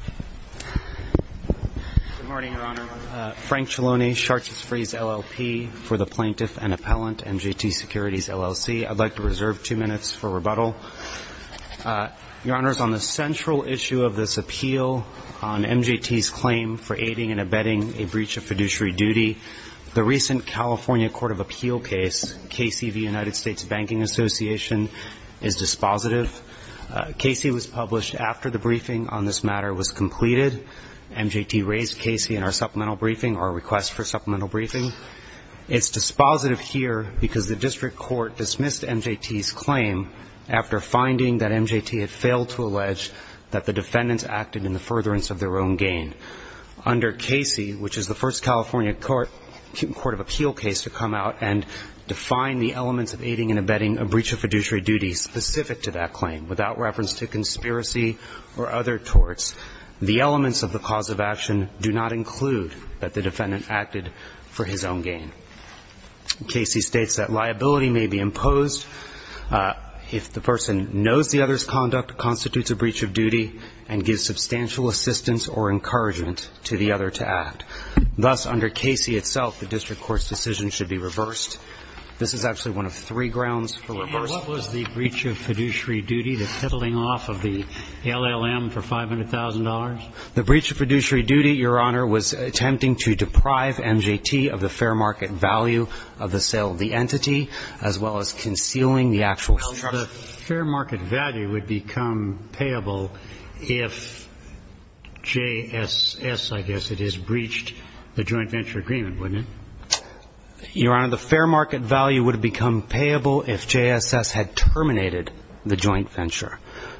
Good morning, Your Honor. Frank Cialone, Chartres Free's LLP for the Plaintiff and Appellant, MJT Securities LLC. I'd like to reserve two minutes for rebuttal. Your Honors, on the central issue of this appeal on MJT's claim for aiding and abetting a breach of fiduciary duty, the recent California Court of Appeal case, KC v. United States Banking Association, is dispositive. KC was published after the briefing on this matter was completed. MJT raised KC in our supplemental briefing, our request for supplemental briefing. It's dispositive here because the district court dismissed MJT's claim after finding that MJT had failed to allege that the defendants acted in the of aiding and abetting a breach of fiduciary duty specific to that claim, without reference to conspiracy or other torts. The elements of the cause of action do not include that the defendant acted for his own gain. KC states that liability may be imposed if the person knows the other's conduct constitutes a breach of duty and gives substantial assistance or encouragement to the other to act. Thus, under KC itself, the district court's decision should be reversed. This is actually one of three grounds for reversal. So what was the breach of fiduciary duty, the peddling off of the LLM for $500,000? The breach of fiduciary duty, Your Honor, was attempting to deprive MJT of the fair market value of the sale of the entity, as well as concealing the actual The fair market value would become payable if JSS, I guess it is, breached the joint venture agreement, wouldn't it? Your Honor, the fair market value would become payable if JSS had terminated the joint venture.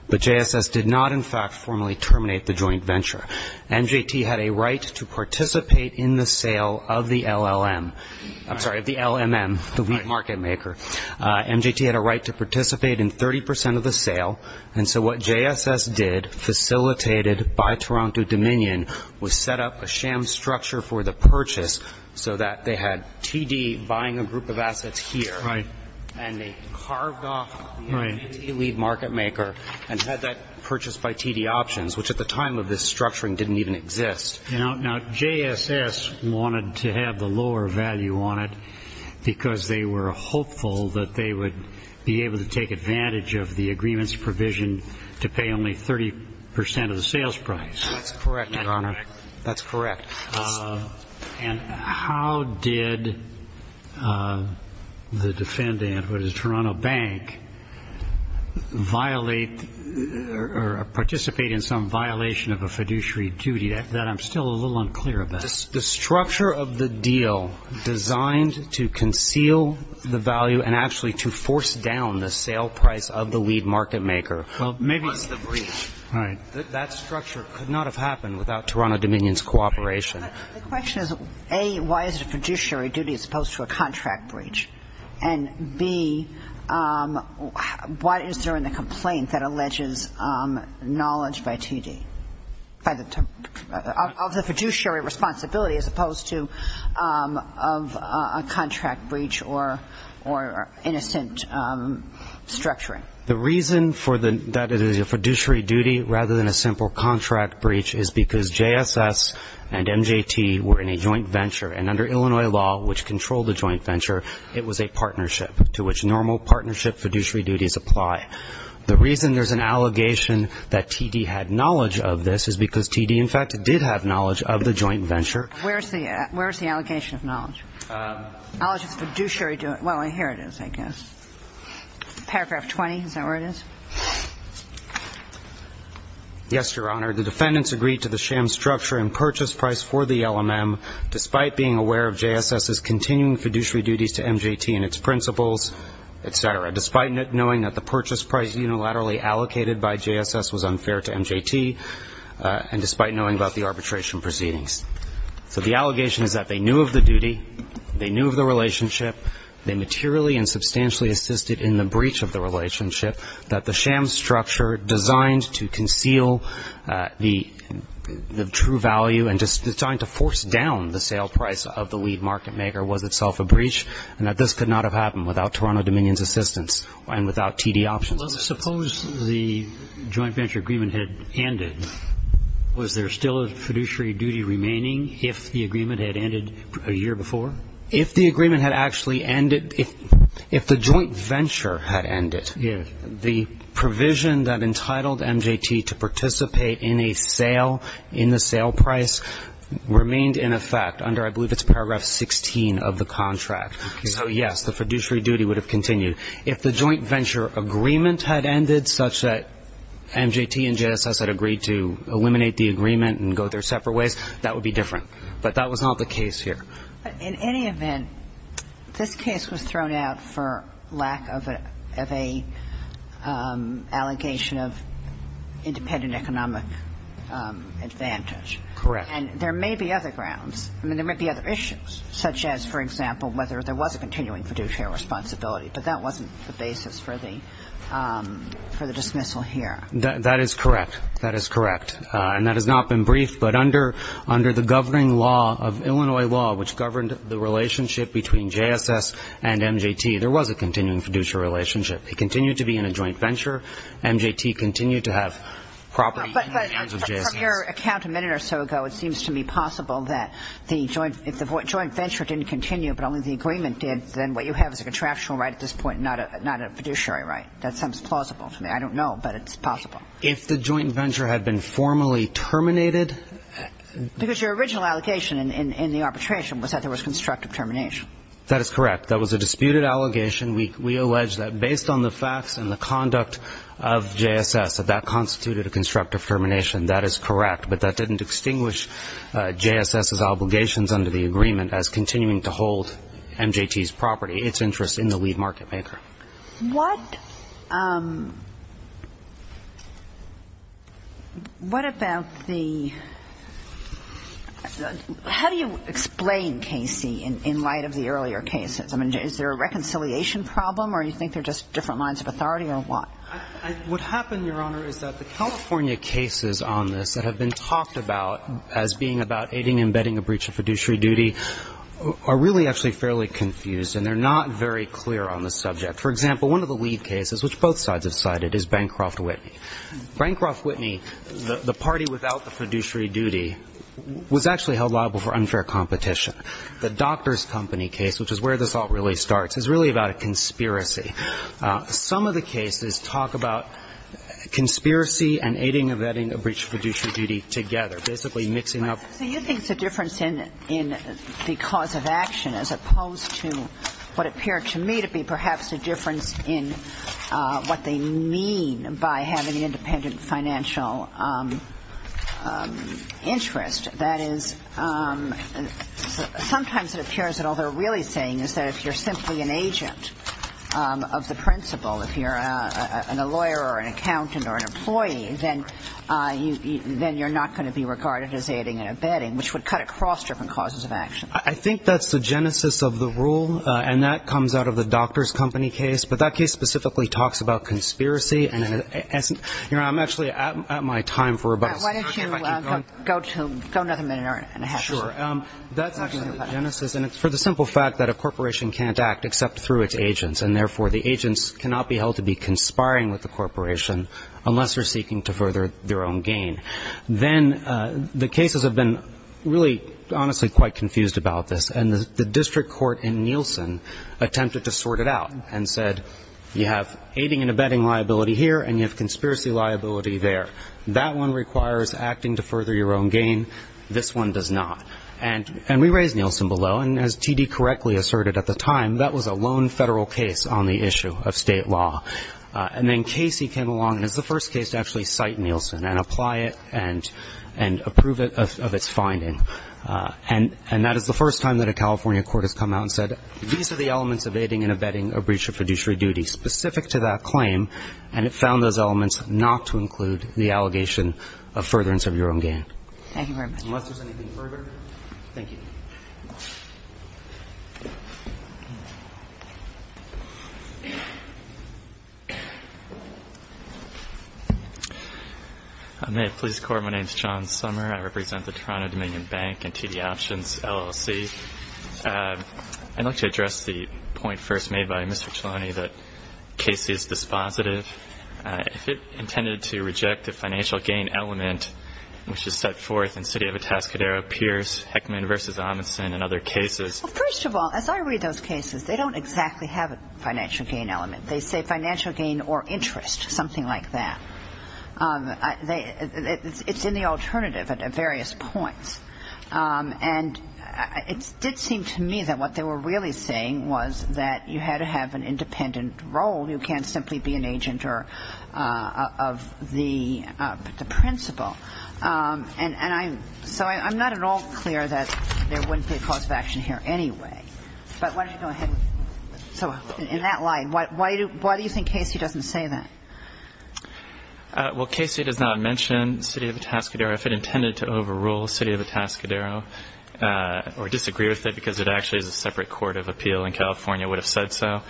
But JSS did not, in fact, formally terminate the joint venture. MJT had a right to participate in the sale of the LLM. I'm sorry, of the LMM, the wheat market maker. MJT had a right to participate in 30 percent of the sale, and so what JSS did, facilitated by Toronto Dominion, was set up a sham structure for the purchase so that they had a right to have TD buying a group of assets here, and they carved off the LLM market maker and had that purchased by TD Options, which at the time of this structuring didn't even exist. Now, JSS wanted to have the lower value on it because they were hopeful that they would be able to take advantage of the did the defendant, what is it, Toronto Bank, violate or participate in some violation of a fiduciary duty that I'm still a little unclear about. The structure of the deal designed to conceal the value and actually to force down the sale price of the wheat market maker. Well, maybe it's the breach. Right. That structure could not have happened without Toronto Dominion's cooperation. The question is, A, why is it a fiduciary duty as opposed to a contract breach, and B, what is there in the complaint that alleges knowledge by TD of the fiduciary responsibility as opposed to of a contract breach or innocent structuring? The reason that it is a fiduciary duty rather than a simple contract breach is because JSS and MJT were in a joint venture. And under Illinois law, which controlled the joint venture, it was a partnership to which normal partnership fiduciary duties apply. The reason there's an allegation that TD had knowledge of this is because TD, in fact, did have knowledge of the joint venture. Where's the allegation of knowledge? Knowledge of the fiduciary duty. Well, here it is, I guess. Paragraph 20, is that where it is? Yes, Your Honor. The defendants agreed to the sham structure and purchase price for the LMM despite being aware of JSS's continuing fiduciary duties to MJT and its principles, et cetera, despite knowing that the purchase price unilaterally allocated by JSS was unfair to MJT, and despite knowing about the arbitration proceedings. So the allegation is that they knew of the duty, they knew of the relationship, they materially and substantially assisted in the breach of the relationship, that the sham structure designed to conceal the true value and designed to force down the sale price of the lead market maker was itself a breach, and that this could not have happened without Toronto Dominion's assistance and without TD options. Well, suppose the joint venture agreement had ended. Was there still a fiduciary duty remaining if the agreement had ended a year before? If the agreement had actually ended, if the joint venture had ended, the provision that entitled MJT to participate in a sale, in the sale price, remained in effect under I believe it's paragraph 16 of the contract. So, yes, the fiduciary duty would have continued. If the joint venture agreement had ended such that MJT and JSS had agreed to eliminate the agreement and go their separate ways, that would be different. But that was not the case here. But in any event, this case was thrown out for lack of an allegation of independent economic advantage. Correct. And there may be other grounds. I mean, there may be other issues, such as, for example, whether there was a continuing fiduciary responsibility. But that wasn't the basis for the dismissal here. That is correct. That is correct. And that has not been briefed. But under the governing law of Illinois law, which governed the relationship between JSS and MJT, there was a continuing fiduciary relationship. They continued to be in a joint venture. MJT continued to have property in the hands of JSS. But from your account a minute or so ago, it seems to me possible that if the joint venture didn't continue but only the agreement did, then what you have is a contractual right at this point, not a fiduciary right. That sounds plausible to me. I don't know, but it's possible. If the joint venture had been formally terminated? Because your original allegation in the arbitration was that there was constructive termination. That is correct. That was a disputed allegation. We allege that based on the facts and the conduct of JSS, that that constituted a constructive termination. That is correct. But that didn't extinguish JSS's obligations under the agreement as continuing to hold MJT's property, its interest in the lead market maker. What about the – how do you explain, Casey, in light of the earlier cases? I mean, is there a reconciliation problem or do you think they're just different lines of authority or what? What happened, Your Honor, is that the California cases on this that have been talked about as being about aiding and abetting a breach of fiduciary duty are really actually fairly confused and they're not very clear on the subject. For example, one of the lead cases, which both sides have cited, is Bancroft-Whitney. Bancroft-Whitney, the party without the fiduciary duty, was actually held liable for unfair competition. The doctor's company case, which is where this all really starts, is really about a conspiracy. Some of the cases talk about conspiracy and aiding and abetting a breach of fiduciary duty together, basically mixing up. So you think it's a difference in the cause of action as opposed to what appeared to me to be perhaps a difference in what they mean by having independent financial interest. That is, sometimes it appears that all they're really saying is that if you're simply an agent of the principal, if you're a lawyer or an accountant or an employee, then you're not going to be regarded as aiding and abetting, which would cut across different causes of action. I think that's the genesis of the rule, and that comes out of the doctor's company case. But that case specifically talks about conspiracy. And I'm actually at my time for about a second. Why don't you go another minute and a half. Sure. That's actually the genesis. And it's for the simple fact that a corporation can't act except through its agents, and therefore the agents cannot be held to be conspiring with the corporation unless they're seeking to further their own gain. Then the cases have been really honestly quite confused about this. And the district court in Nielsen attempted to sort it out and said you have aiding and abetting liability here and you have conspiracy liability there. That one requires acting to further your own gain. This one does not. And we raised Nielsen below, and as T.D. correctly asserted at the time, that was a lone federal case on the issue of state law. And then Casey came along, and it's the first case to actually cite Nielsen and apply it and approve it of its finding. And that is the first time that a California court has come out and said these are the elements of aiding and abetting a breach of fiduciary duty specific to that claim, and it found those elements not to include the allegation of furtherance of your own gain. Thank you very much. Unless there's anything further, thank you. May it please the Court, my name is John Sommer. I represent the Toronto Dominion Bank and TD Options LLC. I'd like to address the point first made by Mr. Cialone that Casey is dispositive. If it intended to reject the financial gain element, which is set forth in City of Atascadero, Pierce, Heckman v. Amundsen, and other cases. First of all, as I read those cases, they don't exactly have a financial gain element. They say financial gain or interest, something like that. It's in the alternative at various points. And it did seem to me that what they were really saying was that you had to have an independent role. You can't simply be an agent of the principal. And so I'm not at all clear that there wouldn't be a cause of action here anyway. But why don't you go ahead. So in that light, why do you think Casey doesn't say that? Well, Casey does not mention City of Atascadero. If it intended to overrule City of Atascadero or disagree with it because it actually is a separate court of appeal in California, it would have said so.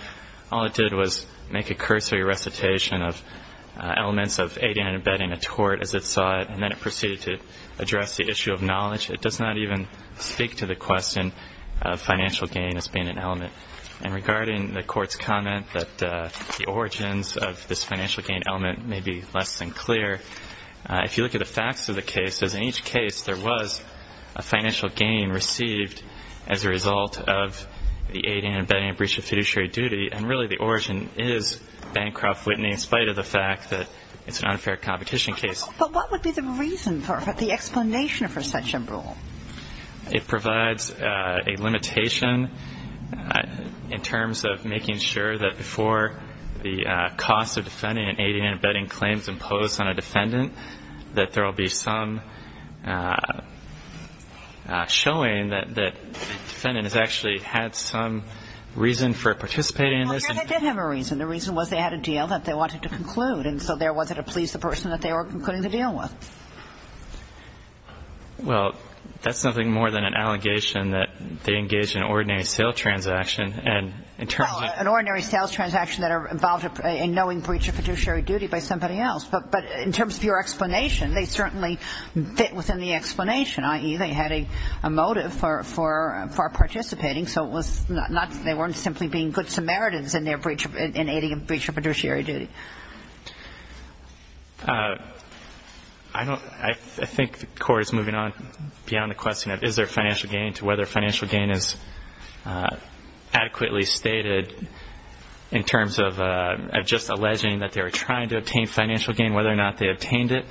All it did was make a cursory recitation of elements of aiding and abetting a tort as it saw it, and then it proceeded to address the issue of knowledge. It does not even speak to the question of financial gain as being an element. And regarding the court's comment that the origins of this financial gain element may be less than clear, if you look at the facts of the cases, in each case there was a financial gain received as a result of the aiding and abetting and breach of fiduciary duty, and really the origin is Bancroft-Whitney in spite of the fact that it's an unfair competition case. But what would be the reason for it, the explanation for such a rule? It provides a limitation in terms of making sure that before the cost of defending and aiding and abetting claims imposed on a defendant, that there will be some showing that the defendant has actually had some reason for participating in this. Well, they did have a reason. The reason was they had a deal that they wanted to conclude, and so there wasn't a pleased person that they were concluding the deal with. Well, that's nothing more than an allegation that they engaged in an ordinary sales transaction, and in terms of an ordinary sales transaction that involved a knowing breach of fiduciary duty by somebody else. But in terms of your explanation, they certainly fit within the explanation, i.e., they had a motive for participating, so they weren't simply being good Samaritans in aiding and abetting a breach of fiduciary duty. I think the Court is moving on beyond the question of is there financial gain to whether financial gain is adequately stated in terms of just alleging that they were trying to obtain financial gain, whether or not they obtained it,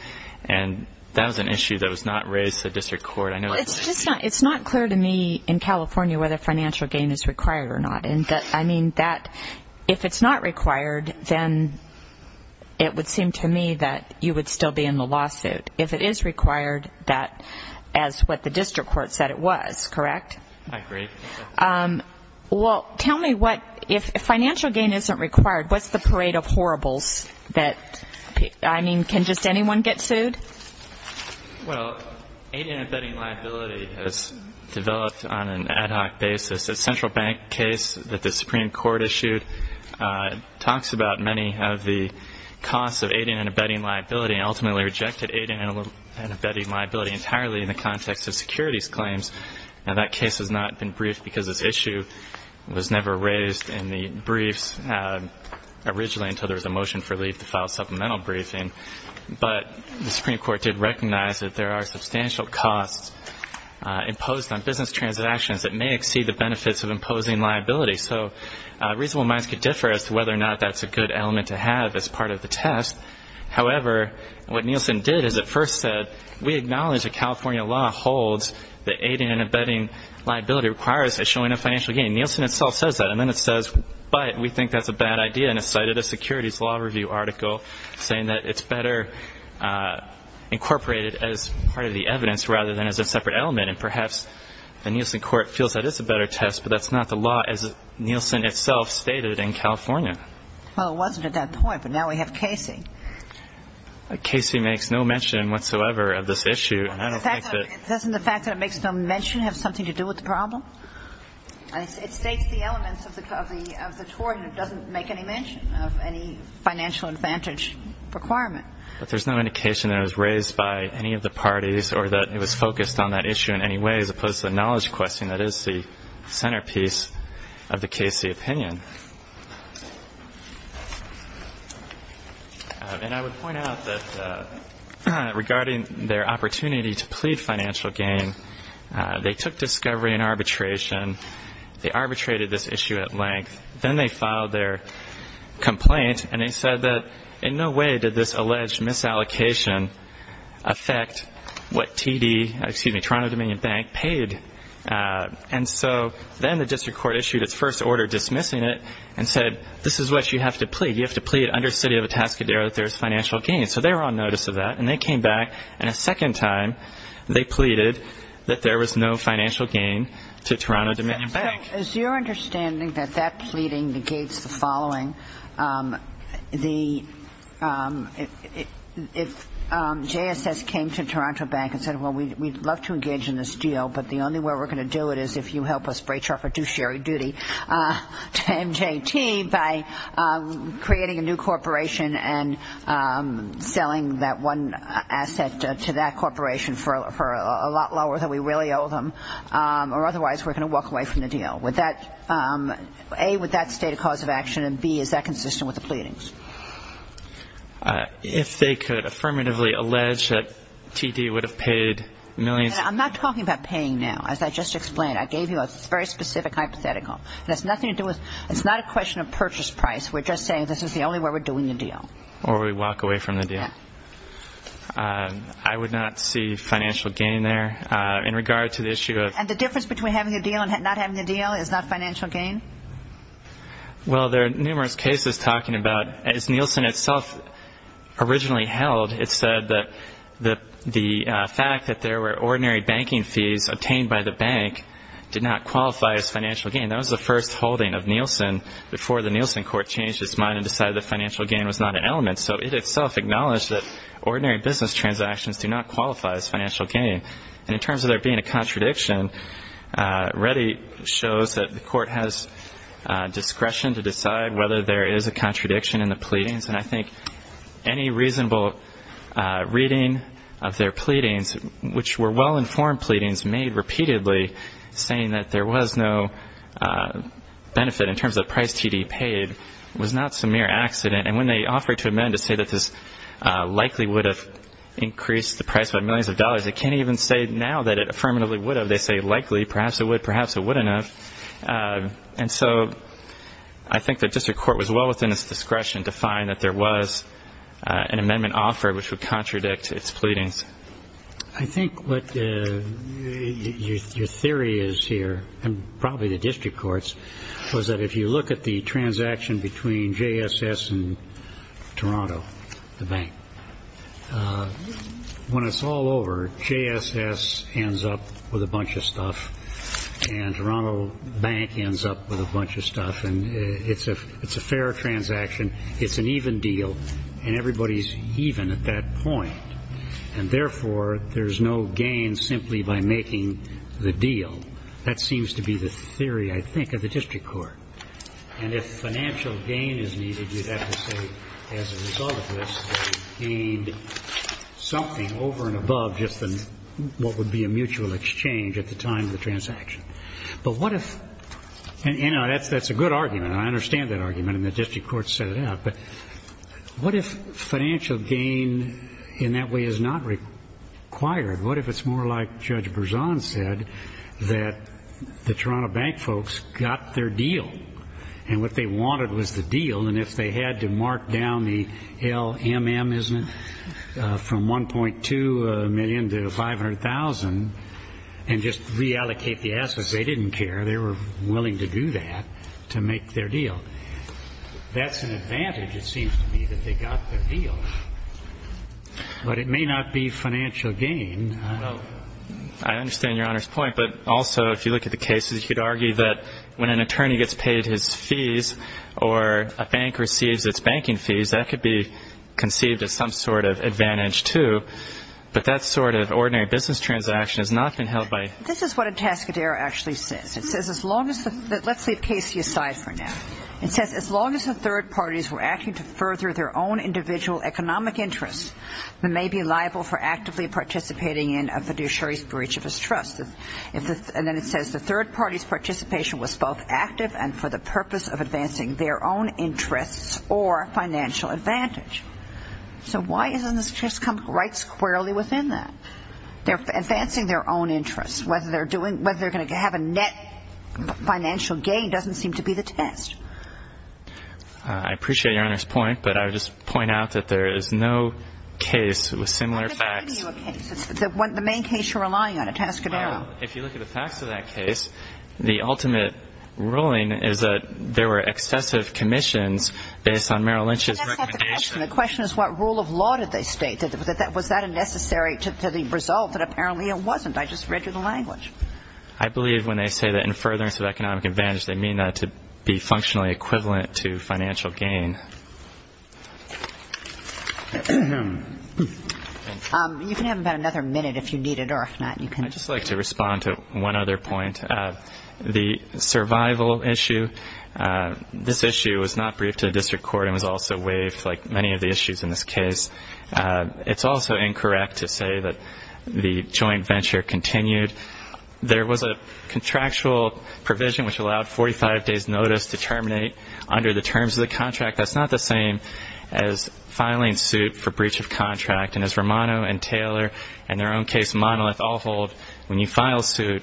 and that was an issue that was not raised to the district court. It's just not clear to me in California whether financial gain is required or not. I mean, if it's not required, then it would seem to me that you would still be in the lawsuit. If it is required, that is what the district court said it was, correct? I agree. Well, tell me what, if financial gain isn't required, what's the parade of horribles that, I mean, can just anyone get sued? Well, aiding and abetting liability has developed on an ad hoc basis. A central bank case that the Supreme Court issued talks about many of the costs of aiding and abetting liability and ultimately rejected aiding and abetting liability entirely in the context of securities claims. Now, that case has not been briefed because this issue was never raised in the briefs originally until there was a motion for leave to file supplemental briefing. But the Supreme Court did recognize that there are substantial costs imposed on business transactions that may exceed the benefits of imposing liability. So reasonable minds could differ as to whether or not that's a good element to have as part of the test. However, what Nielsen did is it first said, we acknowledge that California law holds that aiding and abetting liability requires a showing of financial gain. Nielsen itself says that. And then it says, but we think that's a bad idea. And it cited a securities law review article saying that it's better incorporated as part of the evidence rather than as a separate element. And perhaps the Nielsen Court feels that it's a better test, but that's not the law as Nielsen itself stated in California. Well, it wasn't at that point, but now we have Casey. Casey makes no mention whatsoever of this issue. Doesn't the fact that it makes no mention have something to do with the problem? It states the elements of the tort and it doesn't make any mention of any financial advantage requirement. But there's no indication that it was raised by any of the parties or that it was focused on that issue in any way as opposed to the knowledge question that is the centerpiece of the Casey opinion. And I would point out that regarding their opportunity to plead financial gain, they took discovery and arbitration. Then they filed their complaint and they said that in no way did this alleged misallocation affect what TD, excuse me, Toronto Dominion Bank paid. And so then the district court issued its first order dismissing it and said, this is what you have to plead. You have to plead under city of Atascadero that there is financial gain. So they were on notice of that and they came back. And a second time they pleaded that there was no financial gain to Toronto Dominion Bank. Is your understanding that that pleading negates the following? If JSS came to Toronto Bank and said, well, we'd love to engage in this deal, but the only way we're going to do it is if you help us breach our fiduciary duty to MJT by creating a new corporation and selling that one asset to that corporation for a lot lower than we really owe them, or otherwise we're going to walk away from the deal, would that, A, would that state a cause of action, and B, is that consistent with the pleadings? If they could affirmatively allege that TD would have paid millions. I'm not talking about paying now. As I just explained, I gave you a very specific hypothetical. It has nothing to do with, it's not a question of purchase price. We're just saying this is the only way we're doing the deal. Or we walk away from the deal. I would not see financial gain there. And the difference between having a deal and not having a deal is not financial gain? Well, there are numerous cases talking about, as Nielsen itself originally held, it said that the fact that there were ordinary banking fees obtained by the bank did not qualify as financial gain. That was the first holding of Nielsen before the Nielsen court changed its mind and decided that financial gain was not an element. So it itself acknowledged that ordinary business transactions do not qualify as financial gain. And in terms of there being a contradiction, Reddy shows that the court has discretion to decide whether there is a contradiction in the pleadings. And I think any reasonable reading of their pleadings, which were well-informed pleadings made repeatedly saying that there was no benefit in terms of price TD paid, was not some mere accident. And when they offered to amend to say that this likely would have increased the price by millions of dollars, it can't even say now that it affirmatively would have. They say likely, perhaps it would, perhaps it wouldn't have. And so I think the district court was well within its discretion to find that there was an amendment offered, which would contradict its pleadings. I think what your theory is here, and probably the district court's, was that if you look at the transaction between JSS and Toronto, the bank, when it's all over, JSS ends up with a bunch of stuff, and Toronto Bank ends up with a bunch of stuff, and it's a fair transaction, it's an even deal, and everybody's even at that point. And therefore, there's no gain simply by making the deal. That seems to be the theory, I think, of the district court. And if financial gain is needed, you'd have to say as a result of this, they gained something over and above just what would be a mutual exchange at the time of the transaction. But what if, and that's a good argument, and I understand that argument, and the district court set it out, but what if financial gain in that way is not required? What if it's more like Judge Berzon said, that the Toronto Bank folks got their deal, and what they wanted was the deal, and if they had to mark down the LMM, isn't it, from $1.2 million to $500,000 and just reallocate the assets, they didn't care, they were willing to do that to make their deal. That's an advantage, it seems to me, that they got their deal. But it may not be financial gain. Well, I understand Your Honor's point. But also, if you look at the cases, you could argue that when an attorney gets paid his fees or a bank receives its banking fees, that could be conceived as some sort of advantage, too. But that sort of ordinary business transaction has not been held by ---- This is what a tascadero actually says. It says as long as the ---- let's leave Casey aside for now. It says as long as the third parties were acting to further their own individual economic interests, they may be liable for actively participating in a fiduciary breach of his trust. And then it says the third party's participation was both active and for the purpose of advancing their own interests or financial advantage. So why doesn't this just come right squarely within that? They're advancing their own interests. Whether they're going to have a net financial gain doesn't seem to be the test. I appreciate Your Honor's point. But I would just point out that there is no case with similar facts. It's the main case you're relying on, a tascadero. Well, if you look at the facts of that case, the ultimate ruling is that there were excessive commissions based on Merrill Lynch's recommendation. The question is what rule of law did they state? Was that a necessary to the result that apparently it wasn't? I just read through the language. I believe when they say that in furtherance of economic advantage, they mean that to be functionally equivalent to financial gain. You can have about another minute if you need it or if not, you can. I'd just like to respond to one other point. The survival issue, this issue was not briefed to the district court and was also waived like many of the issues in this case. It's also incorrect to say that the joint venture continued. There was a contractual provision which allowed 45 days' notice to terminate under the terms of the contract. That's not the same as filing suit for breach of contract. And as Romano and Taylor in their own case, Monolith, all hold, when you file suit,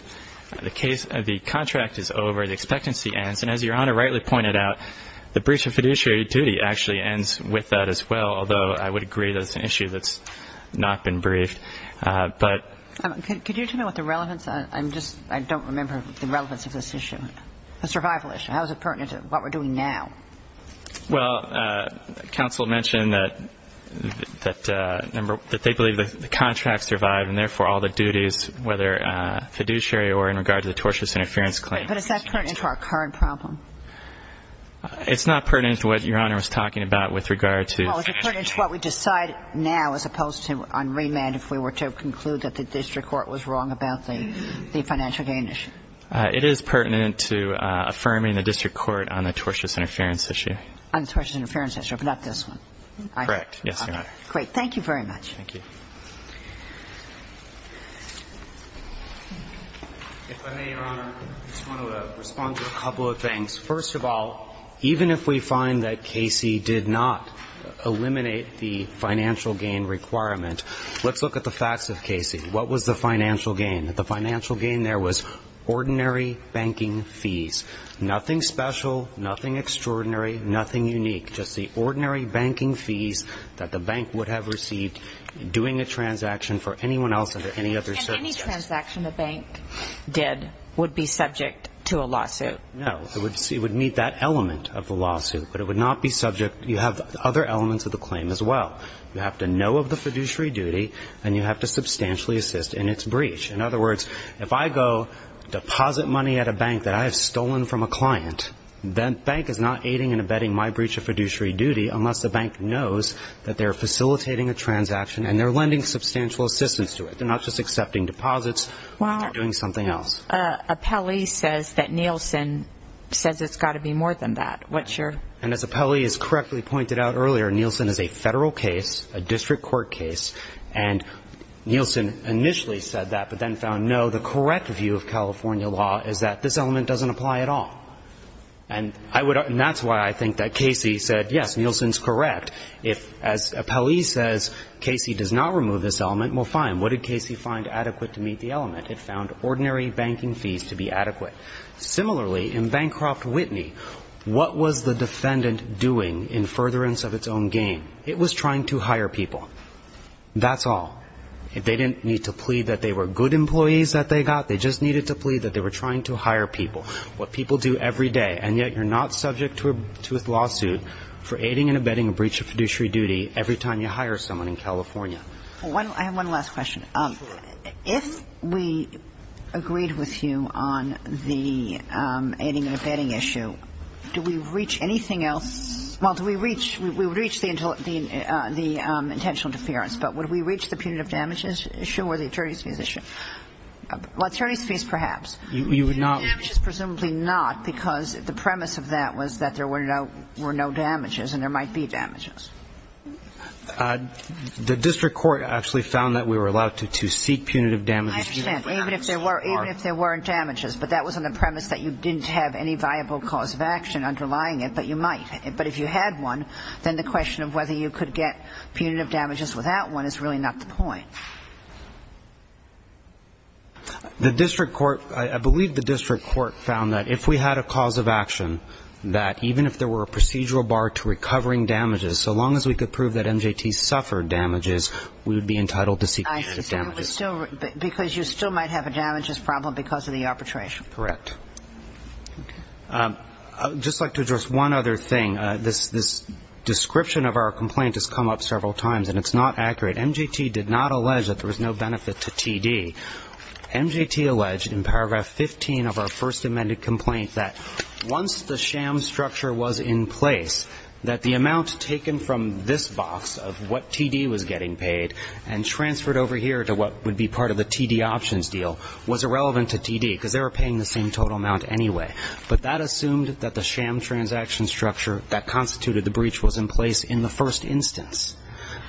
the contract is over, the expectancy ends. And as Your Honor rightly pointed out, the breach of fiduciary duty actually ends with that as well, although I would agree that it's an issue that's not been briefed. Could you tell me what the relevance is? I don't remember the relevance of this issue, the survival issue. How is it pertinent to what we're doing now? Well, counsel mentioned that they believe the contract survived and therefore all the duties, whether fiduciary or in regard to the tortious interference claim. But is that pertinent to our current problem? It's not pertinent to what Your Honor was talking about with regard to financial gain. Well, is it pertinent to what we decide now as opposed to on remand if we were to conclude that the district court was wrong about the financial gain issue? It is pertinent to affirming the district court on the tortious interference issue. On the tortious interference issue, but not this one. Correct. Yes, Your Honor. Thank you very much. Thank you. If I may, Your Honor, I just want to respond to a couple of things. First of all, even if we find that Casey did not eliminate the financial gain requirement, let's look at the facts of Casey. What was the financial gain? The financial gain there was ordinary banking fees, nothing special, nothing extraordinary, nothing unique, just the ordinary banking fees that the bank would have received doing a transaction for anyone else under any other circumstances. And any transaction the bank did would be subject to a lawsuit. No. It would meet that element of the lawsuit, but it would not be subject. You have other elements of the claim as well. You have to know of the fiduciary duty, and you have to substantially assist in its breach. In other words, if I go deposit money at a bank that I have stolen from a client, that bank is not aiding and abetting my breach of fiduciary duty unless the bank knows that they're facilitating a transaction and they're lending substantial assistance to it. They're not just accepting deposits. They're doing something else. Well, Apelli says that Nielsen says it's got to be more than that. And as Apelli has correctly pointed out earlier, Nielsen is a federal case, a district court case, and Nielsen initially said that but then found, no, the correct view of California law is that this element doesn't apply at all. And that's why I think that Casey said, yes, Nielsen's correct. If, as Apelli says, Casey does not remove this element, well, fine. What did Casey find adequate to meet the element? It found ordinary banking fees to be adequate. Similarly, in Bancroft-Whitney, what was the defendant doing in furtherance of its own gain? It was trying to hire people. That's all. They didn't need to plead that they were good employees that they got. They just needed to plead that they were trying to hire people, what people do every day, and yet you're not subject to a lawsuit for aiding and abetting a breach of fiduciary duty every time you hire someone in California. Well, I have one last question. Absolutely. If we agreed with you on the aiding and abetting issue, do we reach anything else? Well, do we reach the intentional interference, but would we reach the punitive damages issue or the attorneys' fees issue? Well, attorneys' fees, perhaps. You would not. Punitive damages, presumably not, because the premise of that was that there were no damages and there might be damages. The district court actually found that we were allowed to seek punitive damages. I understand. Even if there weren't damages, but that was on the premise that you didn't have any viable cause of action underlying it, but you might. But if you had one, then the question of whether you could get punitive damages without one is really not the point. The district court, I believe the district court found that if we had a cause of action, that even if there were a procedural bar to recovering damages, so long as we could prove that MJT suffered damages, we would be entitled to seek punitive damages. I see. Because you still might have a damages problem because of the arbitration. Correct. Okay. I would just like to address one other thing. This description of our complaint has come up several times, and it's not accurate. MJT did not allege that there was no benefit to TD. MJT alleged in paragraph 15 of our first amended complaint that once the sham structure was in place, that the amount taken from this box of what TD was getting paid and transferred over here to what would be part of the TD options deal was irrelevant to TD because they were paying the same total amount anyway. But that assumed that the sham transaction structure that constituted the breach was in place in the first instance.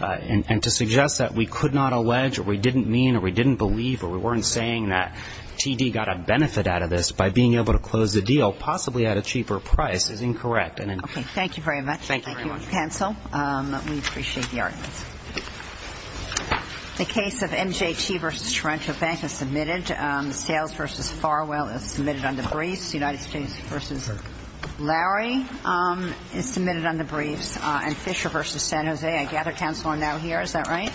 And to suggest that we could not allege or we didn't mean or we didn't believe or we weren't saying that TD got a benefit out of this by being able to close the deal, possibly at a cheaper price, is incorrect. Okay. Thank you very much. Thank you very much. Thank you, counsel. We appreciate the arguments. The case of MJT v. Toronto Bank is submitted. Sales v. Farwell is submitted under briefs. United States v. Lowry is submitted under briefs. And Fisher v. San Jose, I gather counsel are now here. Is that right?